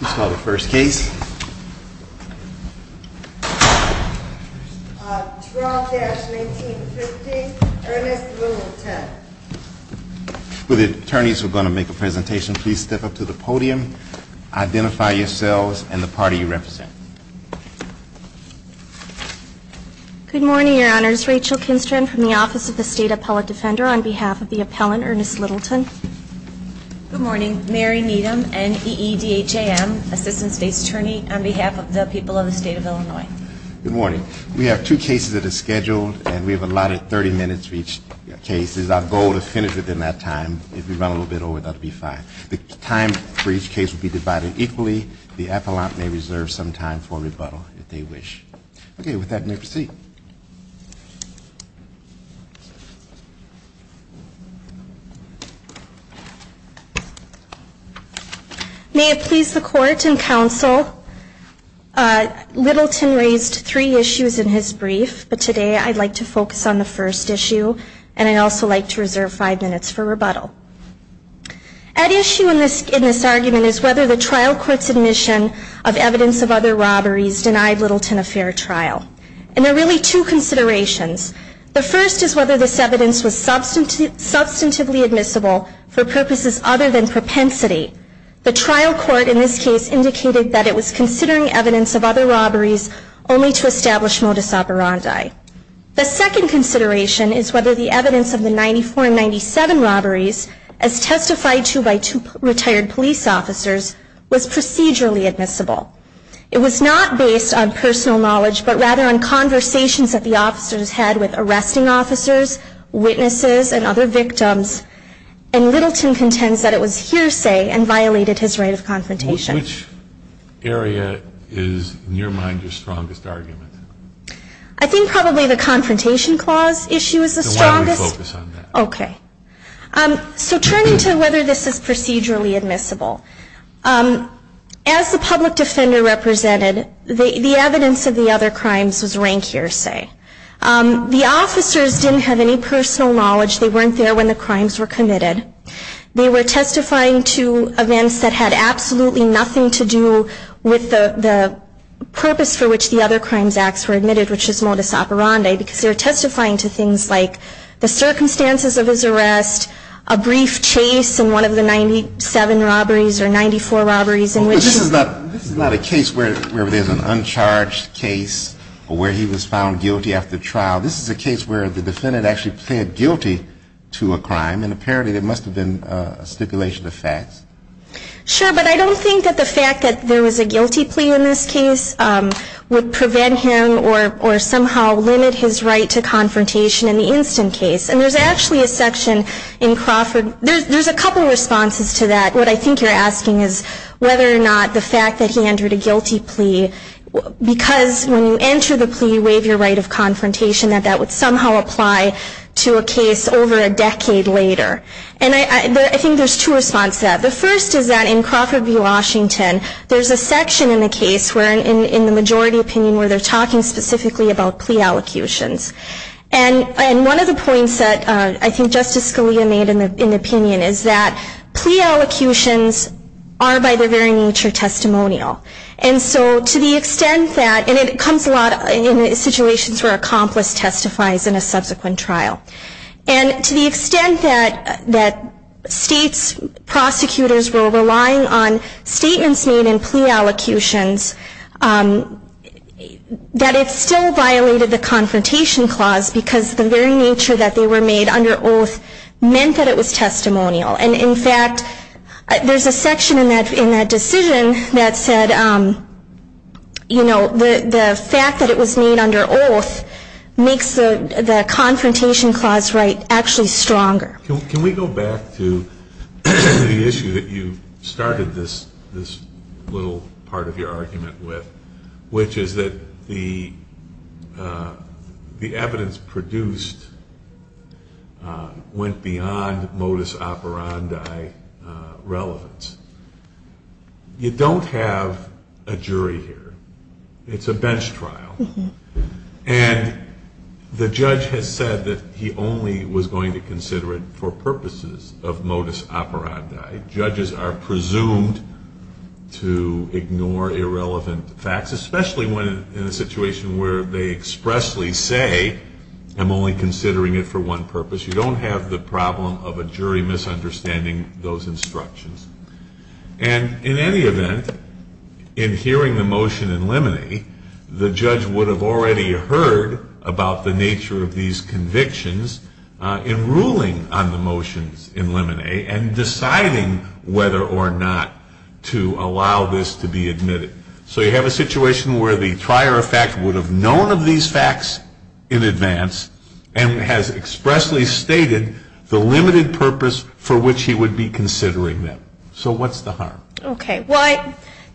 Let's call the first case. 12-1950, Ernest Littleton. Will the attorneys who are going to make a presentation please step up to the podium, identify yourselves, and the party you represent. Good morning, Your Honors. Rachel Kinstren from the Office of the State Appellate Defender on behalf of the appellant, Ernest Littleton. Good morning. Mary Needham, NEEDHAM, Assistant State's Attorney on behalf of the people of the state of Illinois. Good morning. We have two cases that are scheduled, and we have allotted 30 minutes for each case. Our goal is to finish within that time. If we run a little bit over, that'll be fine. The time for each case will be divided equally. The appellant may reserve some time for rebuttal, if they wish. OK, with that, may I proceed? May it please the court and counsel, Littleton raised three issues in his brief, but today I'd like to focus on the first issue, and I'd also like to reserve five minutes for rebuttal. At issue in this argument is whether the trial court's admission of evidence of other robberies denied Littleton a fair trial. And there are really two considerations. The first is whether this evidence was substantively admissible, and the second for purposes other than propensity. The trial court, in this case, indicated that it was considering evidence of other robberies, only to establish modus operandi. The second consideration is whether the evidence of the 94 and 97 robberies, as testified to by two retired police officers, was procedurally admissible. It was not based on personal knowledge, but rather on conversations that the officers had with arresting officers, witnesses, and other victims. And Littleton contends that it was hearsay and violated his right of confrontation. Which area is, in your mind, your strongest argument? I think probably the confrontation clause issue is the strongest. Then why don't we focus on that? OK. So turning to whether this is procedurally admissible, as the public defender represented, the evidence of the other crimes was rank hearsay. The officers didn't have any personal knowledge. They weren't there when the crimes were committed. They were testifying to events that had absolutely nothing to do with the purpose for which the other crimes acts were admitted, which is modus operandi, because they were testifying to things like the circumstances of his arrest, a brief chase in one of the 97 robberies, or 94 robberies in which he was found guilty. This is not a case where there's an uncharged case, or where he was found guilty after the trial. This is a case where the defendant actually pled guilty to a crime. And apparently, there must have been a stipulation of facts. Sure, but I don't think that the fact that there was a guilty plea in this case would prevent him, or somehow limit his right to confrontation in the instant case. And there's actually a section in Crawford, there's a couple of responses to that. What I think you're asking is whether or not the fact that he entered a guilty plea, because when you enter the plea, you somehow apply to a case over a decade later. And I think there's two responses to that. The first is that in Crawford v. Washington, there's a section in the case where, in the majority opinion, where they're talking specifically about plea allocutions. And one of the points that I think Justice Scalia made in the opinion is that plea allocutions are, by their very nature, testimonial. And so to the extent that, and it comes a lot in situations where an accomplice testifies in a subsequent trial. And to the extent that state's prosecutors were relying on statements made in plea allocutions, that it still violated the confrontation clause, because the very nature that they were made under oath meant that it was testimonial. And in fact, there's a section in that decision that said, you know, the fact that it was made under oath makes the confrontation clause right actually stronger. Can we go back to the issue that you started this little part of your argument with, which is that the evidence produced went beyond modus operandi relevance. You don't have a jury here. It's a bench trial. And the judge has said that he only was going to consider it for purposes of modus operandi. Judges are presumed to ignore irrelevant facts, especially when in a situation where they expressly say, I'm only considering it for one purpose. You don't have the problem of a jury misunderstanding those instructions. And in any event, in hearing the motion in limine, the judge would have already heard about the nature of these convictions in ruling on the motions in limine and deciding whether or not to allow this to be admitted. So you have a situation where the trier of fact would have known of these facts in advance and has expressly stated the limited purpose for which he would be considering them. So what's the harm? OK, well,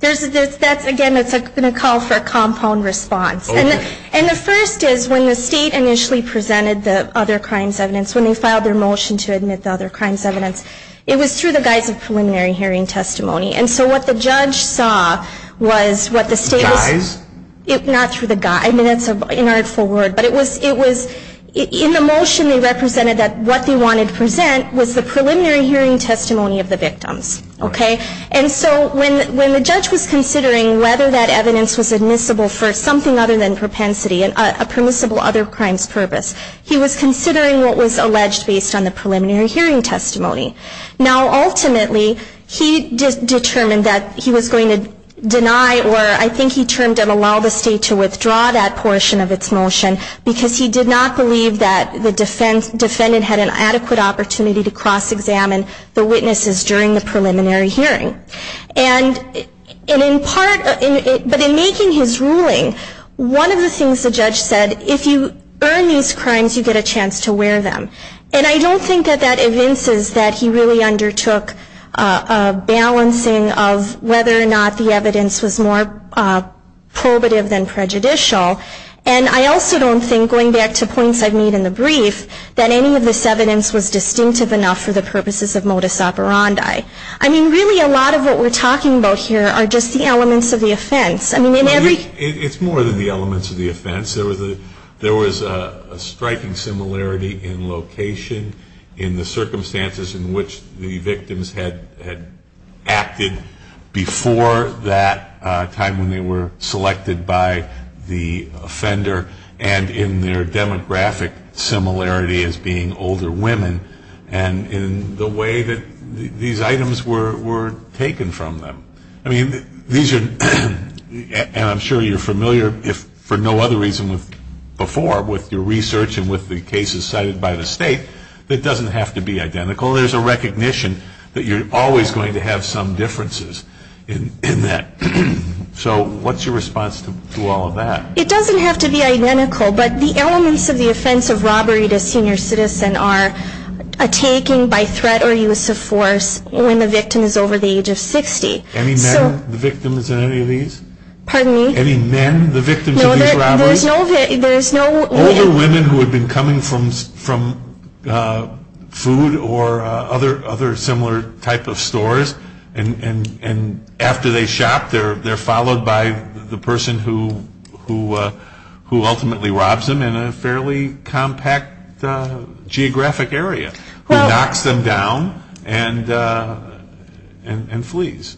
again, it's going to call for a compound response. And the first is, when the state initially presented the other crimes evidence, when they filed their motion to admit the other crimes evidence, it was through the guise of preliminary hearing testimony. And so what the judge saw was what the state was. Guise? Not through the guise. I mean, that's an artful word. But in the motion, they represented that what they wanted to present was the preliminary hearing testimony of the victims. And so when the judge was considering whether that evidence was admissible for something other than propensity, a permissible other crimes purpose, he was considering what was alleged based on the preliminary hearing testimony. Now, ultimately, he determined that he was going to deny, or I think he termed it allow the state to withdraw that portion of its motion, because he did not believe that the defendant had an adequate opportunity to cross-examine the witnesses during the preliminary hearing. And in making his ruling, one of the things the judge said, if you earn these crimes, you get a chance to wear them. And I don't think that that evinces that he really undertook a balancing of whether or not the evidence was more probative than prejudicial. And I also don't think, going back to points I've made in the brief, that any of this evidence was distinctive enough for the purposes of modus operandi. I mean, really, a lot of what we're talking about here are just the elements of the offense. I mean, in every- It's more than the elements of the offense. There was a striking similarity in location, in the circumstances in which the victims had acted before that time when they were selected by the offender, and in their demographic similarity as being older women, and in the way that these items were taken from them. I mean, these are- and I'm sure you're familiar, for no other reason before, with your research and with the cases cited by the state, that doesn't have to be identical. There's a recognition that you're always going to have some differences in that. So what's your response to all of that? It doesn't have to be identical, but the elements of the offense of robbery to a senior citizen are a taking by threat or use of force when the victim is over the age of 60. Any men, the victims in any of these? Pardon me? Any men, the victims of these robberies? No, there's no- Older women who had been coming from food or other similar type of stores, and after they shop, they're followed by the person who ultimately robs them in a fairly compact geographic area, who knocks them down and flees.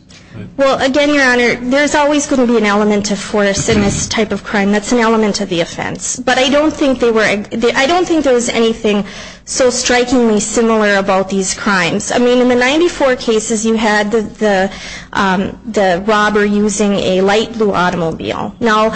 Well, again, Your Honor, there's always going to be an element of force in this type of crime. That's an element of the offense. But I don't think there was anything so strikingly similar about these crimes. In the 94 cases, you had the robber using a light blue automobile. Now,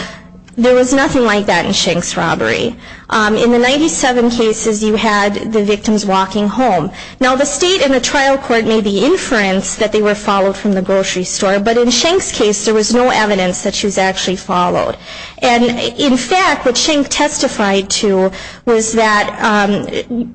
there was nothing like that in Shenk's robbery. In the 97 cases, you had the victims walking home. Now, the state and the trial court made the inference that they were followed from the grocery store. But in Shenk's case, there was no evidence that she was actually followed. And in fact, what Shenk testified to was that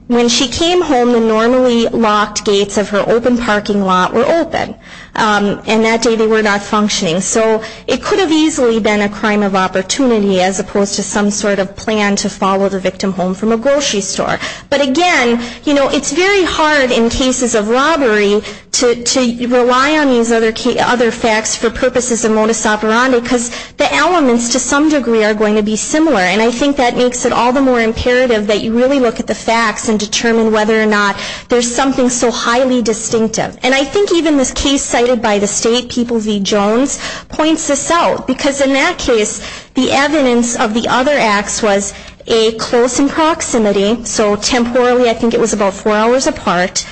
when she came home, the normally locked gates of her open parking lot were open. And that day, they were not functioning. So it could have easily been a crime of opportunity, as opposed to some sort of plan to follow the victim home from a grocery store. But again, it's very hard in cases of robbery to rely on these other facts for purposes of modus operandi, because the elements, to some degree, are going to be similar. And I think that makes it all the more imperative that you really look at the facts and determine whether or not there's something so highly distinctive. And I think even this case cited by the state, People v. Jones, points this out. Because in that case, the evidence of the other acts was a close in proximity. So temporally, I think it was about four hours apart.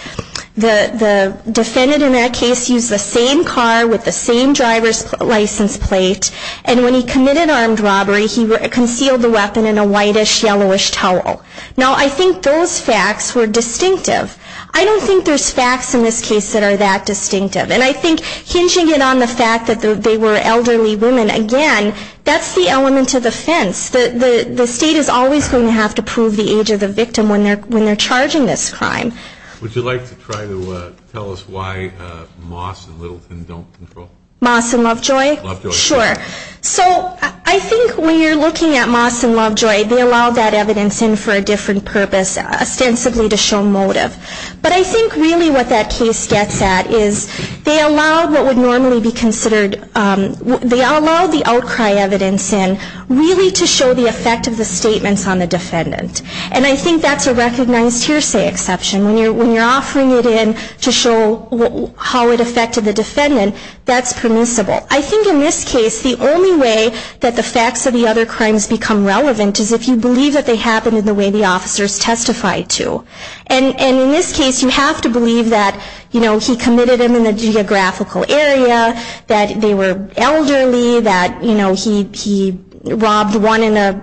The defendant in that case used the same car with the same driver's license plate. And when he committed armed robbery, he concealed the weapon in a whitish, yellowish towel. Now, I think those facts were distinctive. I don't think there's facts in this case that are that distinctive. And I think hinging it on the fact that they were elderly women, again, that's the element of the fence. The state is always going to have to prove the age of the victim when they're charging this crime. Would you like to try to tell us why Moss and Littleton don't control? Moss and Lovejoy? Lovejoy. Sure. So I think when you're looking at Moss and Lovejoy, they allowed that evidence in for a different purpose, ostensibly to show motive. But I think really what that case gets at is they allowed what would normally be considered, they allowed the outcry evidence in really to show the effect of the statements on the defendant. And I think that's a recognized hearsay exception. When you're offering it in to show how it affected the defendant, that's permissible. I think in this case, the only way that the facts of the other crimes become relevant is if you believe that they happened in the way the officers testified to. And in this case, you have to believe that he committed them in a geographical area, that they were elderly, that he robbed one in an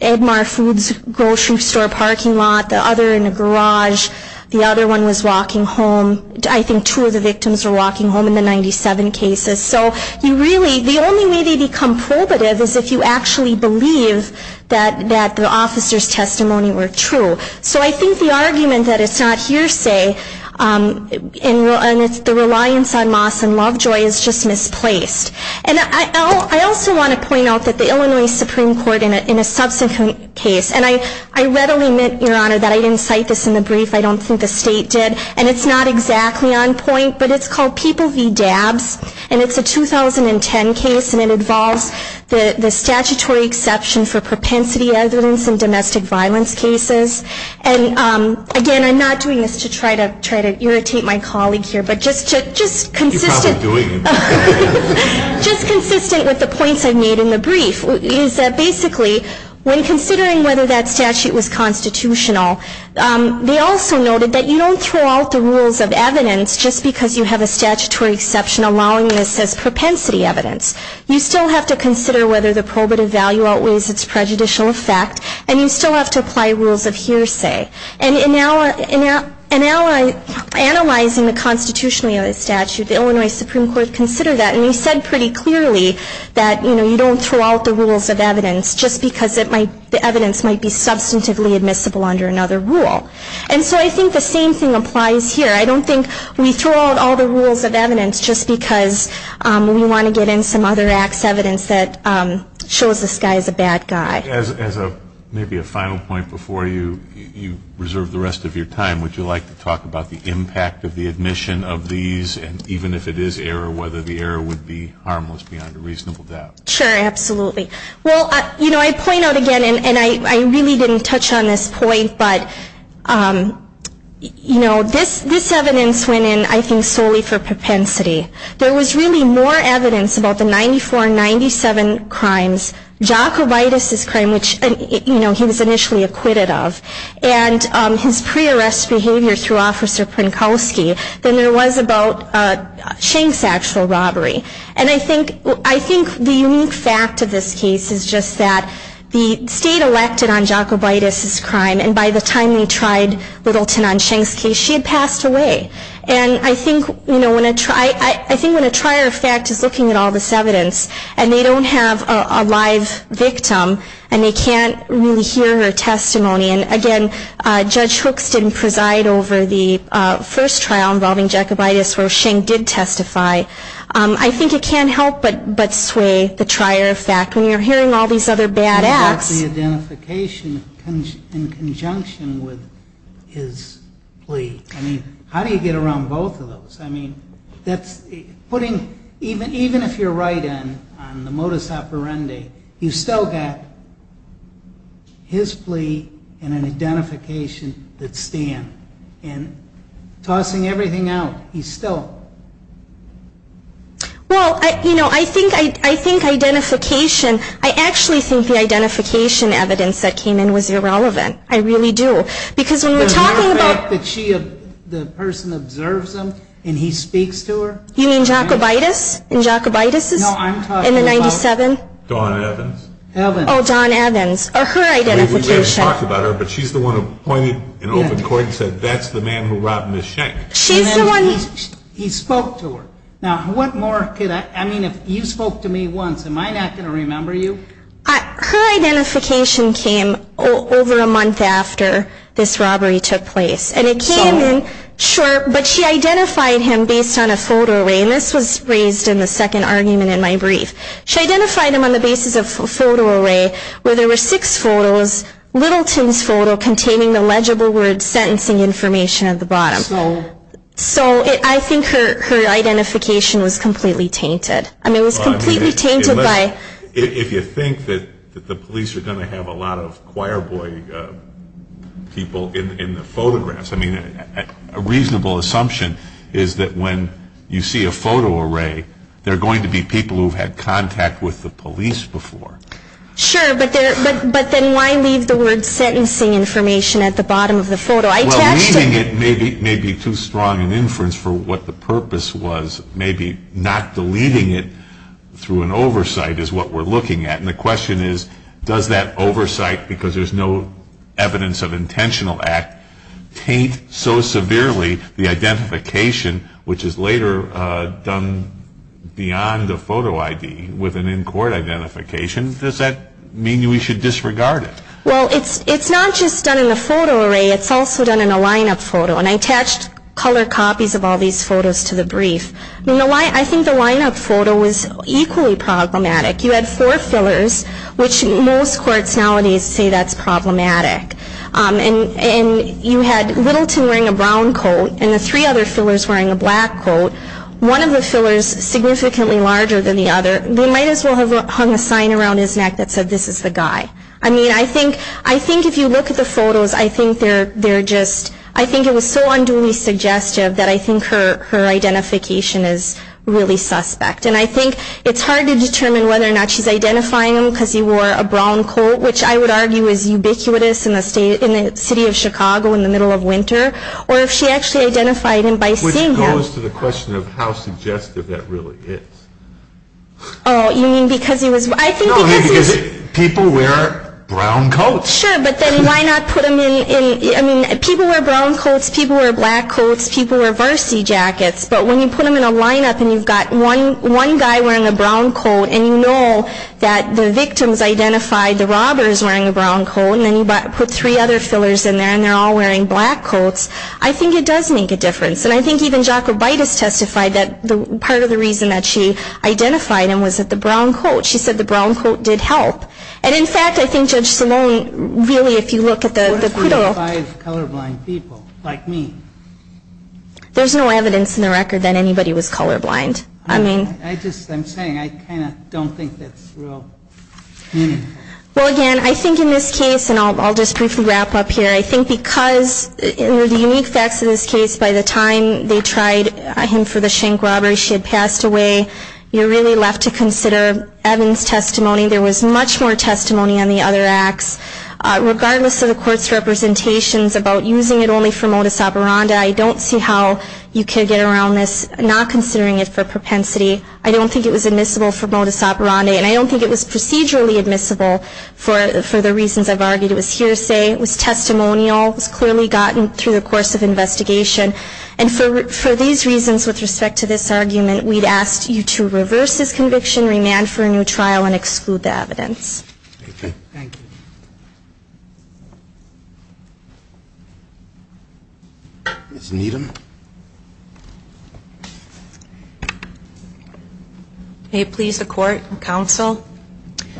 Edmar Foods grocery store parking lot, the other in a garage, the other one was walking home. I think two of the victims were walking home in the 97 cases. So the only way they become probative is if you actually believe that the officers' testimony were true. So I think the argument that it's not hearsay, and it's the reliance on Moss and Lovejoy, is just misplaced. And I also want to point out that the Illinois Supreme Court, in a subsequent case, and I readily admit, Your Honor, that I didn't cite this in the brief. I don't think the state did. And it's not exactly on point, but it's called People v. Dabs. And it's a 2010 case. And it involves the statutory exception for propensity evidence in domestic violence cases. And again, I'm not doing this to try to irritate my colleague here, but just consistent with the points I made in the brief, is that basically, when considering whether that statute was constitutional, they also noted that you don't throw out the rules of evidence just because you have a statutory exception allowing this as propensity evidence. You still have to consider whether the probative value outweighs its prejudicial effect. And you still have to apply rules of hearsay. And analyzing the constitutionality of the statute, the Illinois Supreme Court considered that. And they said pretty clearly that you don't throw out the rules of evidence just because the evidence might be substantively admissible under another rule. And so I think the same thing applies here. I don't think we throw out all the rules of evidence just because we want to get in some other acts evidence that shows this guy's a bad guy. As maybe a final point before you reserve the rest of your time, would you like to talk about the impact of the admission of these, and even if it is error, whether the error would be harmless beyond a reasonable doubt? Sure, absolutely. Well, I point out again, and I really didn't touch on this point, but this evidence went in, I think, solely for propensity. There was really more evidence about the 9497 crimes, Jacobitis' crime, which he was initially acquitted of, and his pre-arrest behavior through Officer Prinkowski, than there was about Schenck's actual robbery. And I think the unique fact of this case is just that the state elected on Jacobitis' crime. And by the time they tried Littleton on Schenck's case, she had passed away. And I think when a trier of fact is looking at all this evidence, and they don't have a live victim, and they can't really hear her testimony, and again, Judge Hooks didn't preside over the first trial involving Jacobitis, where Schenck did testify, I think it can't help but sway the trier of fact. When you're hearing all these other bad acts. The identification in conjunction with his plea. How do you get around both of those? I mean, even if you're right on the modus operandi, you've still got his plea and an identification that stand. And tossing everything out, he's still. Well, I think identification, I actually think the identification evidence that came in was irrelevant. I really do. Because when we're talking about. The mere fact that the person observes him, and he speaks to her. You mean Jacobitis? And Jacobitis is in the 97? Dawn Evans. Oh, Dawn Evans. Or her identification. We've already talked about her, but she's the one who pointed and opened court and said, that's the man who robbed Ms. Schenck. She's the one. He spoke to her. Now, what more could I, I mean, if you spoke to me once, am I not going to remember you? Her identification came over a month after this robbery took place. And it came in short, but she identified him based on a photo array. And this was raised in the second argument in my brief. She identified him on the basis of a photo array, where there were six photos. Littleton's photo containing the legible word sentencing information at the bottom. So I think her identification was completely tainted. I mean, it was completely tainted by. If you think that the police are going to have a lot of choir boy people in the photographs, I mean, a reasonable assumption is that when you see a photo array, they're going to be people who've had contact with the police before. Sure, but then why leave the word sentencing information at the bottom of the photo? Well, leaving it may be too strong an inference for what the purpose was. Maybe not deleting it through an oversight is what we're looking at. And the question is, does that oversight, because there's no evidence of intentional act, taint so severely the identification, which is later done beyond a photo ID with an in-court identification? Does that mean we should disregard it? Well, it's not just done in a photo array. It's also done in a lineup photo. And I attached color copies of all these photos to the brief. I think the lineup photo was equally problematic. You had four fillers, which most courts nowadays say that's problematic. And you had Littleton wearing a brown coat and the three other fillers wearing a black coat. One of the fillers significantly larger than the other, they might as well have hung a sign around his neck that said, this is the guy. I mean, I think if you look at the photos, I think they're just, I think it was so unduly suggestive that I think her identification is really suspect. And I think it's hard to determine whether or not she's identifying him because he wore a brown coat, which I would argue is ubiquitous in the city of Chicago in the middle of winter. Or if she actually identified him by seeing him. Which goes to the question of how suggestive that really is. Oh, you mean because he was, I think because he was. People wear brown coats. Sure, but then why not put him in, I mean, people wear brown coats. People wear black coats. People wear varsity jackets. But when you put them in a lineup and you've got one guy wearing a brown coat and you know that the victims identified the robbers wearing a brown coat, and then you put three other fillers in there and they're all wearing black coats, I think it does make a difference. And I think even Jacobitis testified that part of the reason that she identified him was that the brown coat. She said the brown coat did help. And in fact, I think Judge Salone, really, if you look at the quiddo. Five colorblind people, like me. There's no evidence in the record that anybody was colorblind. I mean. I'm saying I kind of don't think that's real meaningful. Well, again, I think in this case, and I'll just briefly wrap up here, I think because the unique facts of this case, by the time they tried him for the shank robbery, she had passed away, you're really left to consider Evans' testimony. There was much more testimony on the other acts. Regardless of the court's representations about using it only for modus operandi, I don't see how you can get around this, not considering it for propensity. I don't think it was admissible for modus operandi, and I don't think it was procedurally admissible for the reasons I've argued. It was hearsay. It was testimonial. It was clearly gotten through the course of investigation. And for these reasons, with respect to this argument, we'd ask you to reverse this conviction, remand for a new trial, and exclude the evidence. OK. Thank you. Ms. Needham? May it please the court and counsel,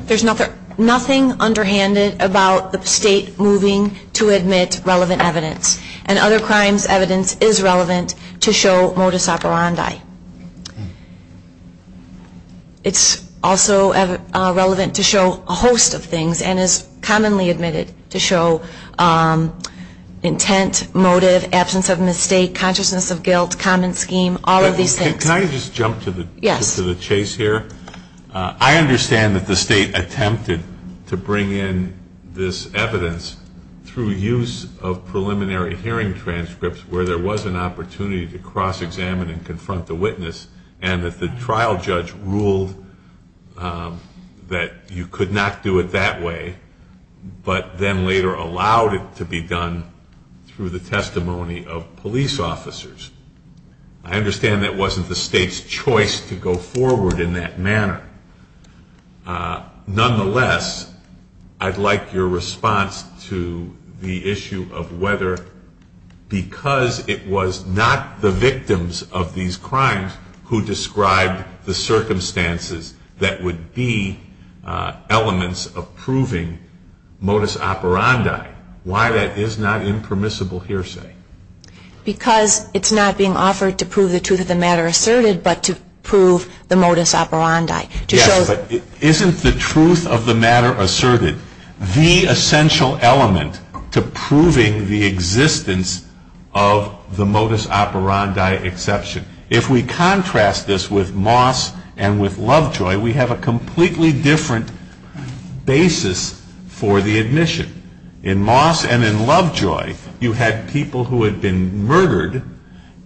there's nothing underhanded about the state moving to admit relevant evidence. And other crimes' evidence is relevant to show modus operandi. It's also relevant to show a host of things, and is commonly admitted to show intent, motive, absence of mistake, consciousness of guilt, common scheme, all of these things. Can I just jump to the chase here? I understand that the state attempted to bring in this evidence through use of preliminary hearing transcripts where there was an opportunity to cross-examine and confront the witness, and that the trial judge ruled that you could not do it that way, but then later allowed it to be done through the testimony of police officers. I understand that wasn't the state's choice to go forward in that manner. Nonetheless, I'd like your response to the issue of whether, because it was not the victims of these crimes who described the circumstances that would be elements of proving modus operandi, why that is not impermissible hearsay? Because it's not being offered to prove the truth of the matter asserted, but to prove the modus operandi. Yes, but isn't the truth of the matter asserted the essential element to proving the existence of the modus operandi exception? If we contrast this with Moss and with Lovejoy, we have a completely different basis for the admission. In Moss and in Lovejoy, you had people who had been murdered,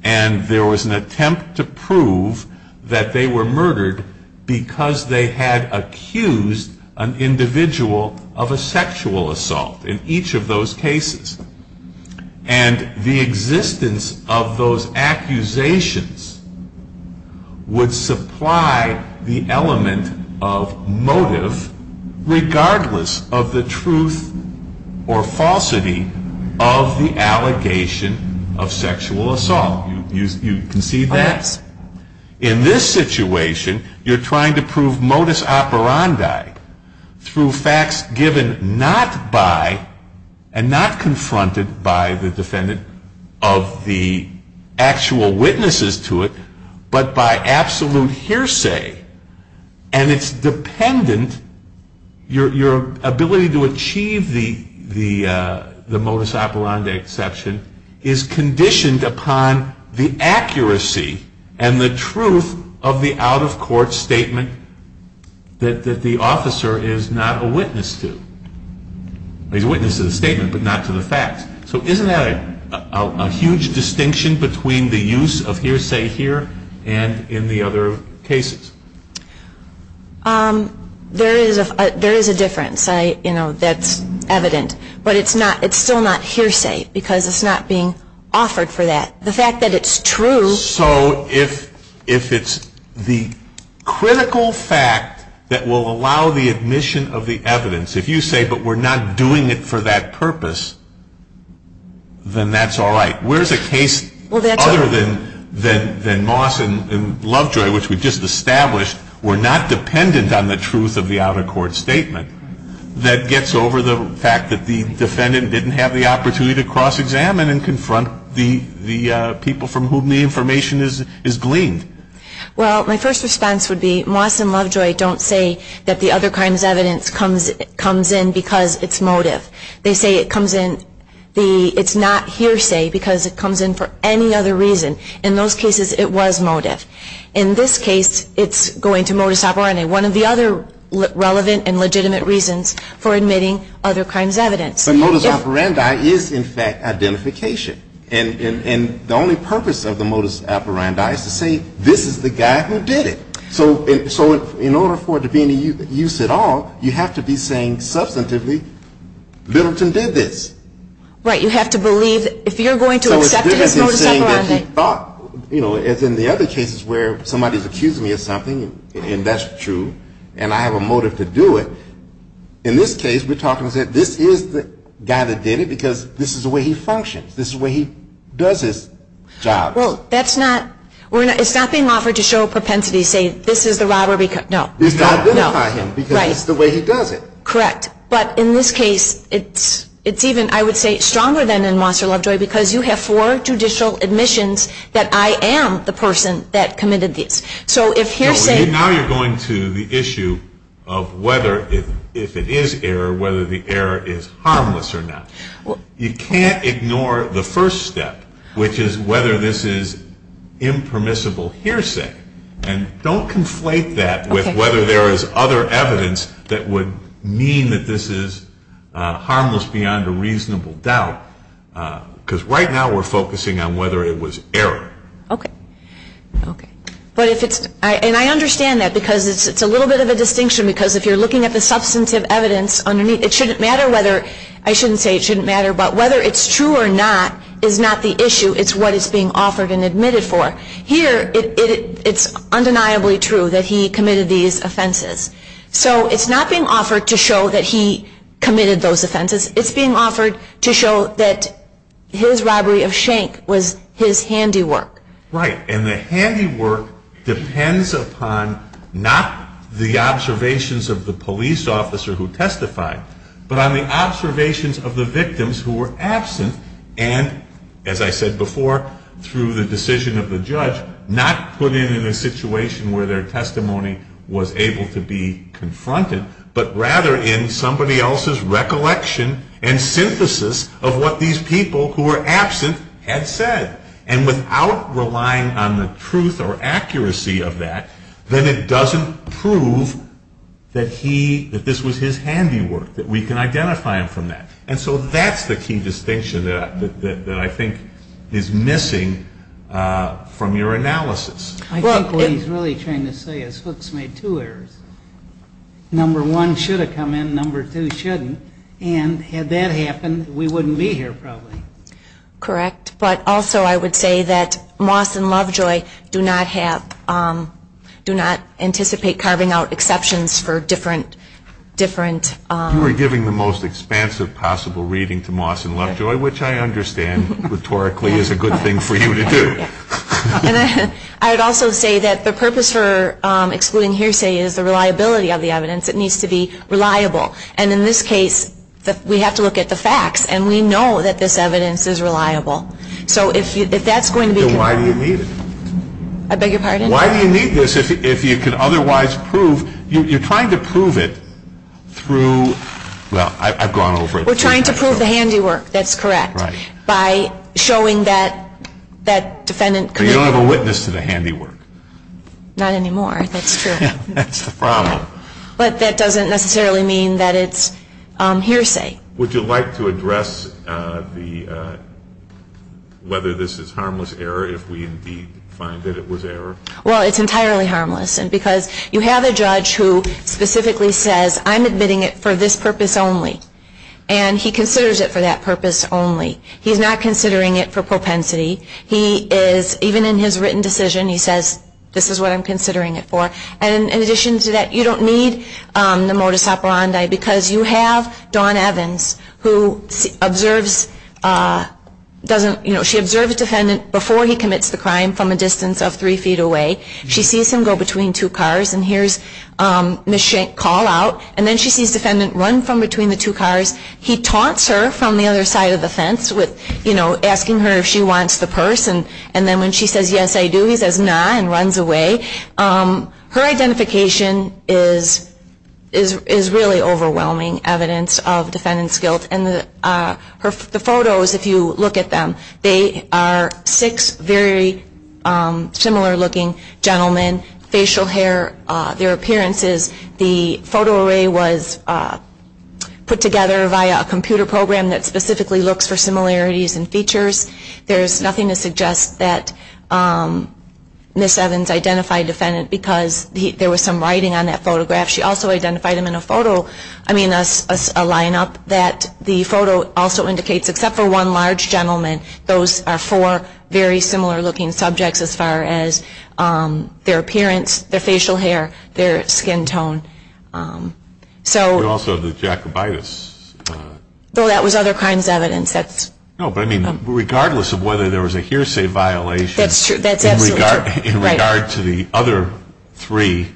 and there was an attempt to prove that they were murdered because they had accused an individual of a sexual assault in each of those cases. And the existence of those accusations would supply the element of motive, regardless of the truth or falsity of the allegation of sexual assault. You can see that. In this situation, you're trying to prove modus operandi through facts given not by and not confronted by the defendant of the actual witnesses to it, but by absolute hearsay. And it's dependent. Your ability to achieve the modus operandi exception is conditioned upon the accuracy and the truth of the out the officer is not a witness to. He's a witness to the statement, but not to the facts. So isn't that a huge distinction between the use of hearsay here and in the other cases? There is a difference. That's evident. But it's still not hearsay, because it's not being offered for that. The fact that it's true. So if it's the critical fact that will allow the admission of the evidence, if you say, but we're not doing it for that purpose, then that's all right. Where's a case other than Moss and Lovejoy, which we've just established, we're not dependent on the truth of the out-of-court statement, that gets over the fact that the defendant didn't have the opportunity to cross-examine and confront the people from whom the information is gleaned? Well, my first response would be Moss and Lovejoy don't say that the other crimes evidence comes in because it's motive. They say it comes in, it's not hearsay, because it comes in for any other reason. In those cases, it was motive. In this case, it's going to modus operandi, one of the other relevant and legitimate reasons for admitting other crimes evidence. But modus operandi is, in fact, identification. And the only purpose of the modus operandi is to say, this is the guy who did it. So in order for it to be any use at all, you have to be saying substantively, Littleton did this. Right, you have to believe if you're going to accept it as modus operandi. So it's different than saying that he thought, as in the other cases where somebody is accusing me of something, and that's true, and I have a motive to do it. In this case, we're talking that this is the guy that did it, because this is the way he functions. This is the way he does his job. Well, that's not, it's not being offered to show propensity, say, this is the robber because, no. It's to identify him, because it's the way he does it. Correct. But in this case, it's even, I would say, stronger than in Mosser Lovejoy, because you have four judicial admissions that I am the person that committed these. So if hearsay. Now you're going to the issue of whether, if it is error, whether the error is harmless or not. You can't ignore the first step, which is whether this is impermissible hearsay. And don't conflate that with whether there is other evidence that would mean that this is harmless beyond a reasonable doubt, because right now we're focusing on whether it was error. OK. OK. But if it's, and I understand that, because it's a little bit of a distinction, because if you're looking at the substantive evidence underneath, it shouldn't matter whether, I shouldn't say it shouldn't matter, but whether it's true or not is not the issue. It's what is being offered and admitted for. Here, it's undeniably true that he committed these offenses. So it's not being offered to show that he committed those offenses. It's being offered to show that his robbery of shank was his handiwork. And the handiwork depends upon not the observations of the police officer who testified, but on the observations of the victims who were absent and, as I said before, through the decision of the judge, not put in a situation where their testimony was able to be confronted, but rather in somebody else's recollection and synthesis of what these people who were absent had said. And without relying on the truth or accuracy of that, then it doesn't prove that this was his handiwork, that we can identify him from that. And so that's the key distinction that I think is missing from your analysis. I think what he's really trying to say is Hooks made two errors. Number one should have come in, number two shouldn't. And had that happened, we wouldn't be here probably. Correct. But also, I would say that Moss and Lovejoy do not anticipate carving out exceptions for different, different. You are giving the most expansive possible reading to Moss and Lovejoy, which I understand rhetorically is a good thing for you to do. I'd also say that the purpose for excluding hearsay is the reliability of the evidence. It needs to be reliable. And in this case, we have to look at the facts. And we know that this evidence is reliable. So if that's going to be the problem. So why do you need it? I beg your pardon? Why do you need this if you can otherwise prove? You're trying to prove it through, well, I've gone over it. We're trying to prove the handiwork. That's correct. By showing that that defendant could have. But you don't have a witness to the handiwork. Not anymore, that's true. That's the problem. But that doesn't necessarily mean that it's hearsay. Would you like to address whether this is harmless error if we indeed find that it was error? Well, it's entirely harmless. And because you have a judge who specifically says, I'm admitting it for this purpose only. And he considers it for that purpose only. He's not considering it for propensity. He is, even in his written decision, he says, this is what I'm considering it for. And in addition to that, you don't need the modus operandi because you have Dawn Evans, who observes, she observes the defendant before he commits the crime from a distance of three feet away. She sees him go between two cars. And here's Ms. Schenck call out. And then she sees defendant run from between the two cars. He taunts her from the other side of the fence with asking her if she wants the purse. And then when she says, yes, I do, he says, nah, and runs away. Her identification is really overwhelming evidence of defendant's guilt. And the photos, if you look at them, they are six very similar looking gentlemen, facial hair. Their appearances, the photo array was put together via a computer program that specifically looks for similarities and features. There's nothing to suggest that Ms. Evans identified defendant because there was some writing on that photograph. She also identified him in a photo, I mean, a line up that the photo also indicates, except for one large gentleman, those are four very similar looking subjects as far as their appearance, their facial hair, their skin tone. So also the jacobitis. Though that was other crimes evidence. No, but I mean, regardless of whether there was a hearsay violation in regard to the other three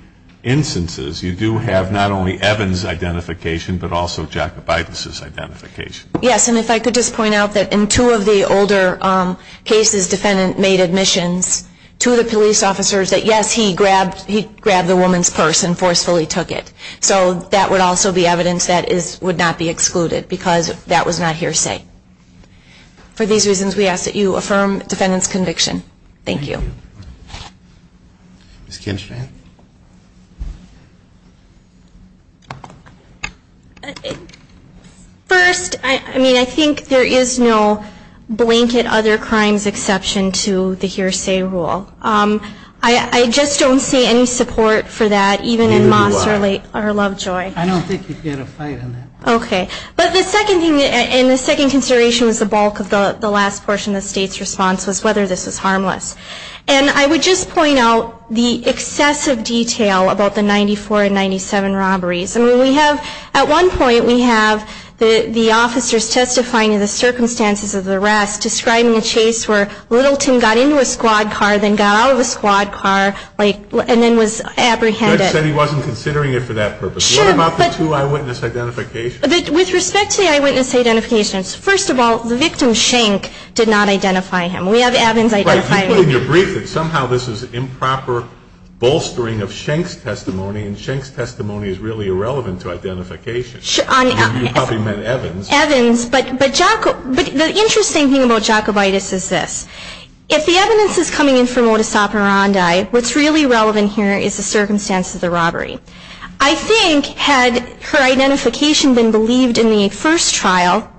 instances, you do have not only Evans' identification, but also jacobitis' identification. Yes, and if I could just point out that in two of the older cases, defendant made admissions to the police officers that, yes, he grabbed the woman's purse and forcefully took it. So that would also be evidence that would not be excluded because that was not hearsay. For these reasons, we ask that you affirm defendant's conviction. Thank you. Ms. Kinshman. First, I mean, I think there is no blanket other crimes exception to the hearsay rule. I just don't see any support for that, even in Moss or Lovejoy. I don't think you'd get a fight on that. OK. But the second thing, and the second consideration was the bulk of the last portion of the state's response was whether this was harmless. And I would just point out the excessive detail about the 94 and 97 robberies. I mean, we have, at one point, we have the officers testifying in the circumstances of the arrest describing a chase where Littleton got into a squad car, then got out of a squad car, and then was apprehended. Judge said he wasn't considering it for that purpose. What about the two eyewitness identifications? With respect to the eyewitness identifications, first of all, the victim, Schenck, did not identify him. We have Evans identifying him. Right, you put in your brief that somehow this is improper bolstering of Schenck's testimony, and Schenck's testimony is really irrelevant to identification. I mean, you probably meant Evans. Evans, but the interesting thing about Jacobitis is this. If the evidence is coming in for modus operandi, what's really relevant here is the circumstance of the robbery. I think had her identification been believed in the first trial,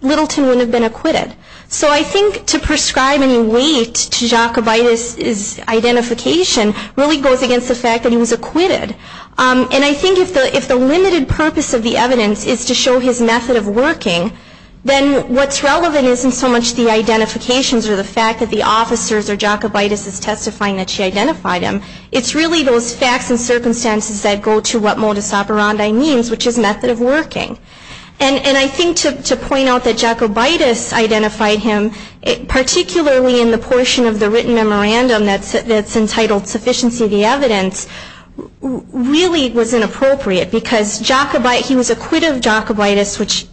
Littleton wouldn't have been acquitted. So I think to prescribe any weight to Jacobitis' identification really goes against the fact that he was acquitted. And I think if the limited purpose of the evidence is to show his method of working, then what's relevant isn't so much the identifications or the fact that the officers or Jacobitis is testifying that she identified him. It's really those facts and circumstances that go to what modus operandi means, which is method of working. And I think to point out that Jacobitis identified him, particularly in the portion of the written memorandum that's entitled, Sufficiency of the Evidence, really was inappropriate. Because he was acquitted of Jacobitis, which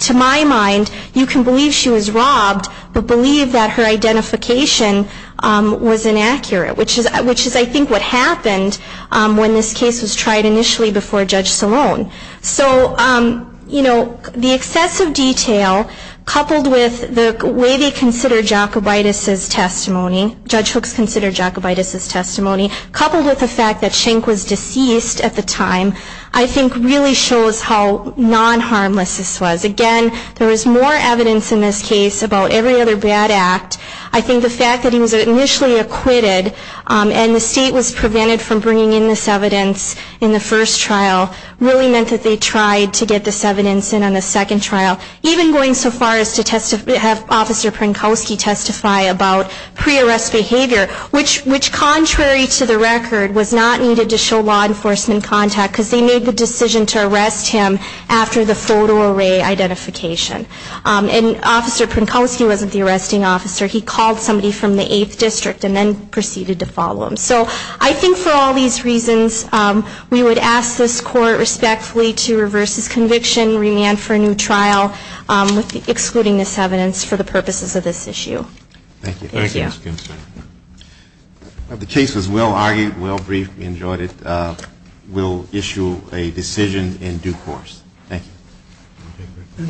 to my mind, you can believe she was robbed, but believe that her identification was inaccurate, which is, I think, what happened when this case was tried initially before Judge Salone. So the excessive detail coupled with the way they consider Jacobitis' testimony, Judge Hooks considered Jacobitis' testimony, coupled with the fact that Schenck was deceased at the time, I think really shows how non-harmless this was. Again, there is more evidence in this case about every other bad act. I think the fact that he was initially acquitted and the state was prevented from bringing in this evidence in the first trial really meant that they tried to get this evidence in on the second trial, even going so far as to have Officer Prenkowski testify about pre-arrest behavior, which contrary to the record was not needed to show law enforcement contact because they made the decision to arrest him after the photo array identification. And Officer Prenkowski wasn't the arresting officer. He called somebody from the 8th District and then proceeded to follow him. So I think for all these reasons, we would ask this court respectfully to reverse his conviction, remand for a new trial, excluding this evidence for the purposes of this issue. Thank you. Thank you, Ms. Ginsburg. The case was well-argued, well-briefed. We enjoyed it. We'll issue a decision in due course. Thank you.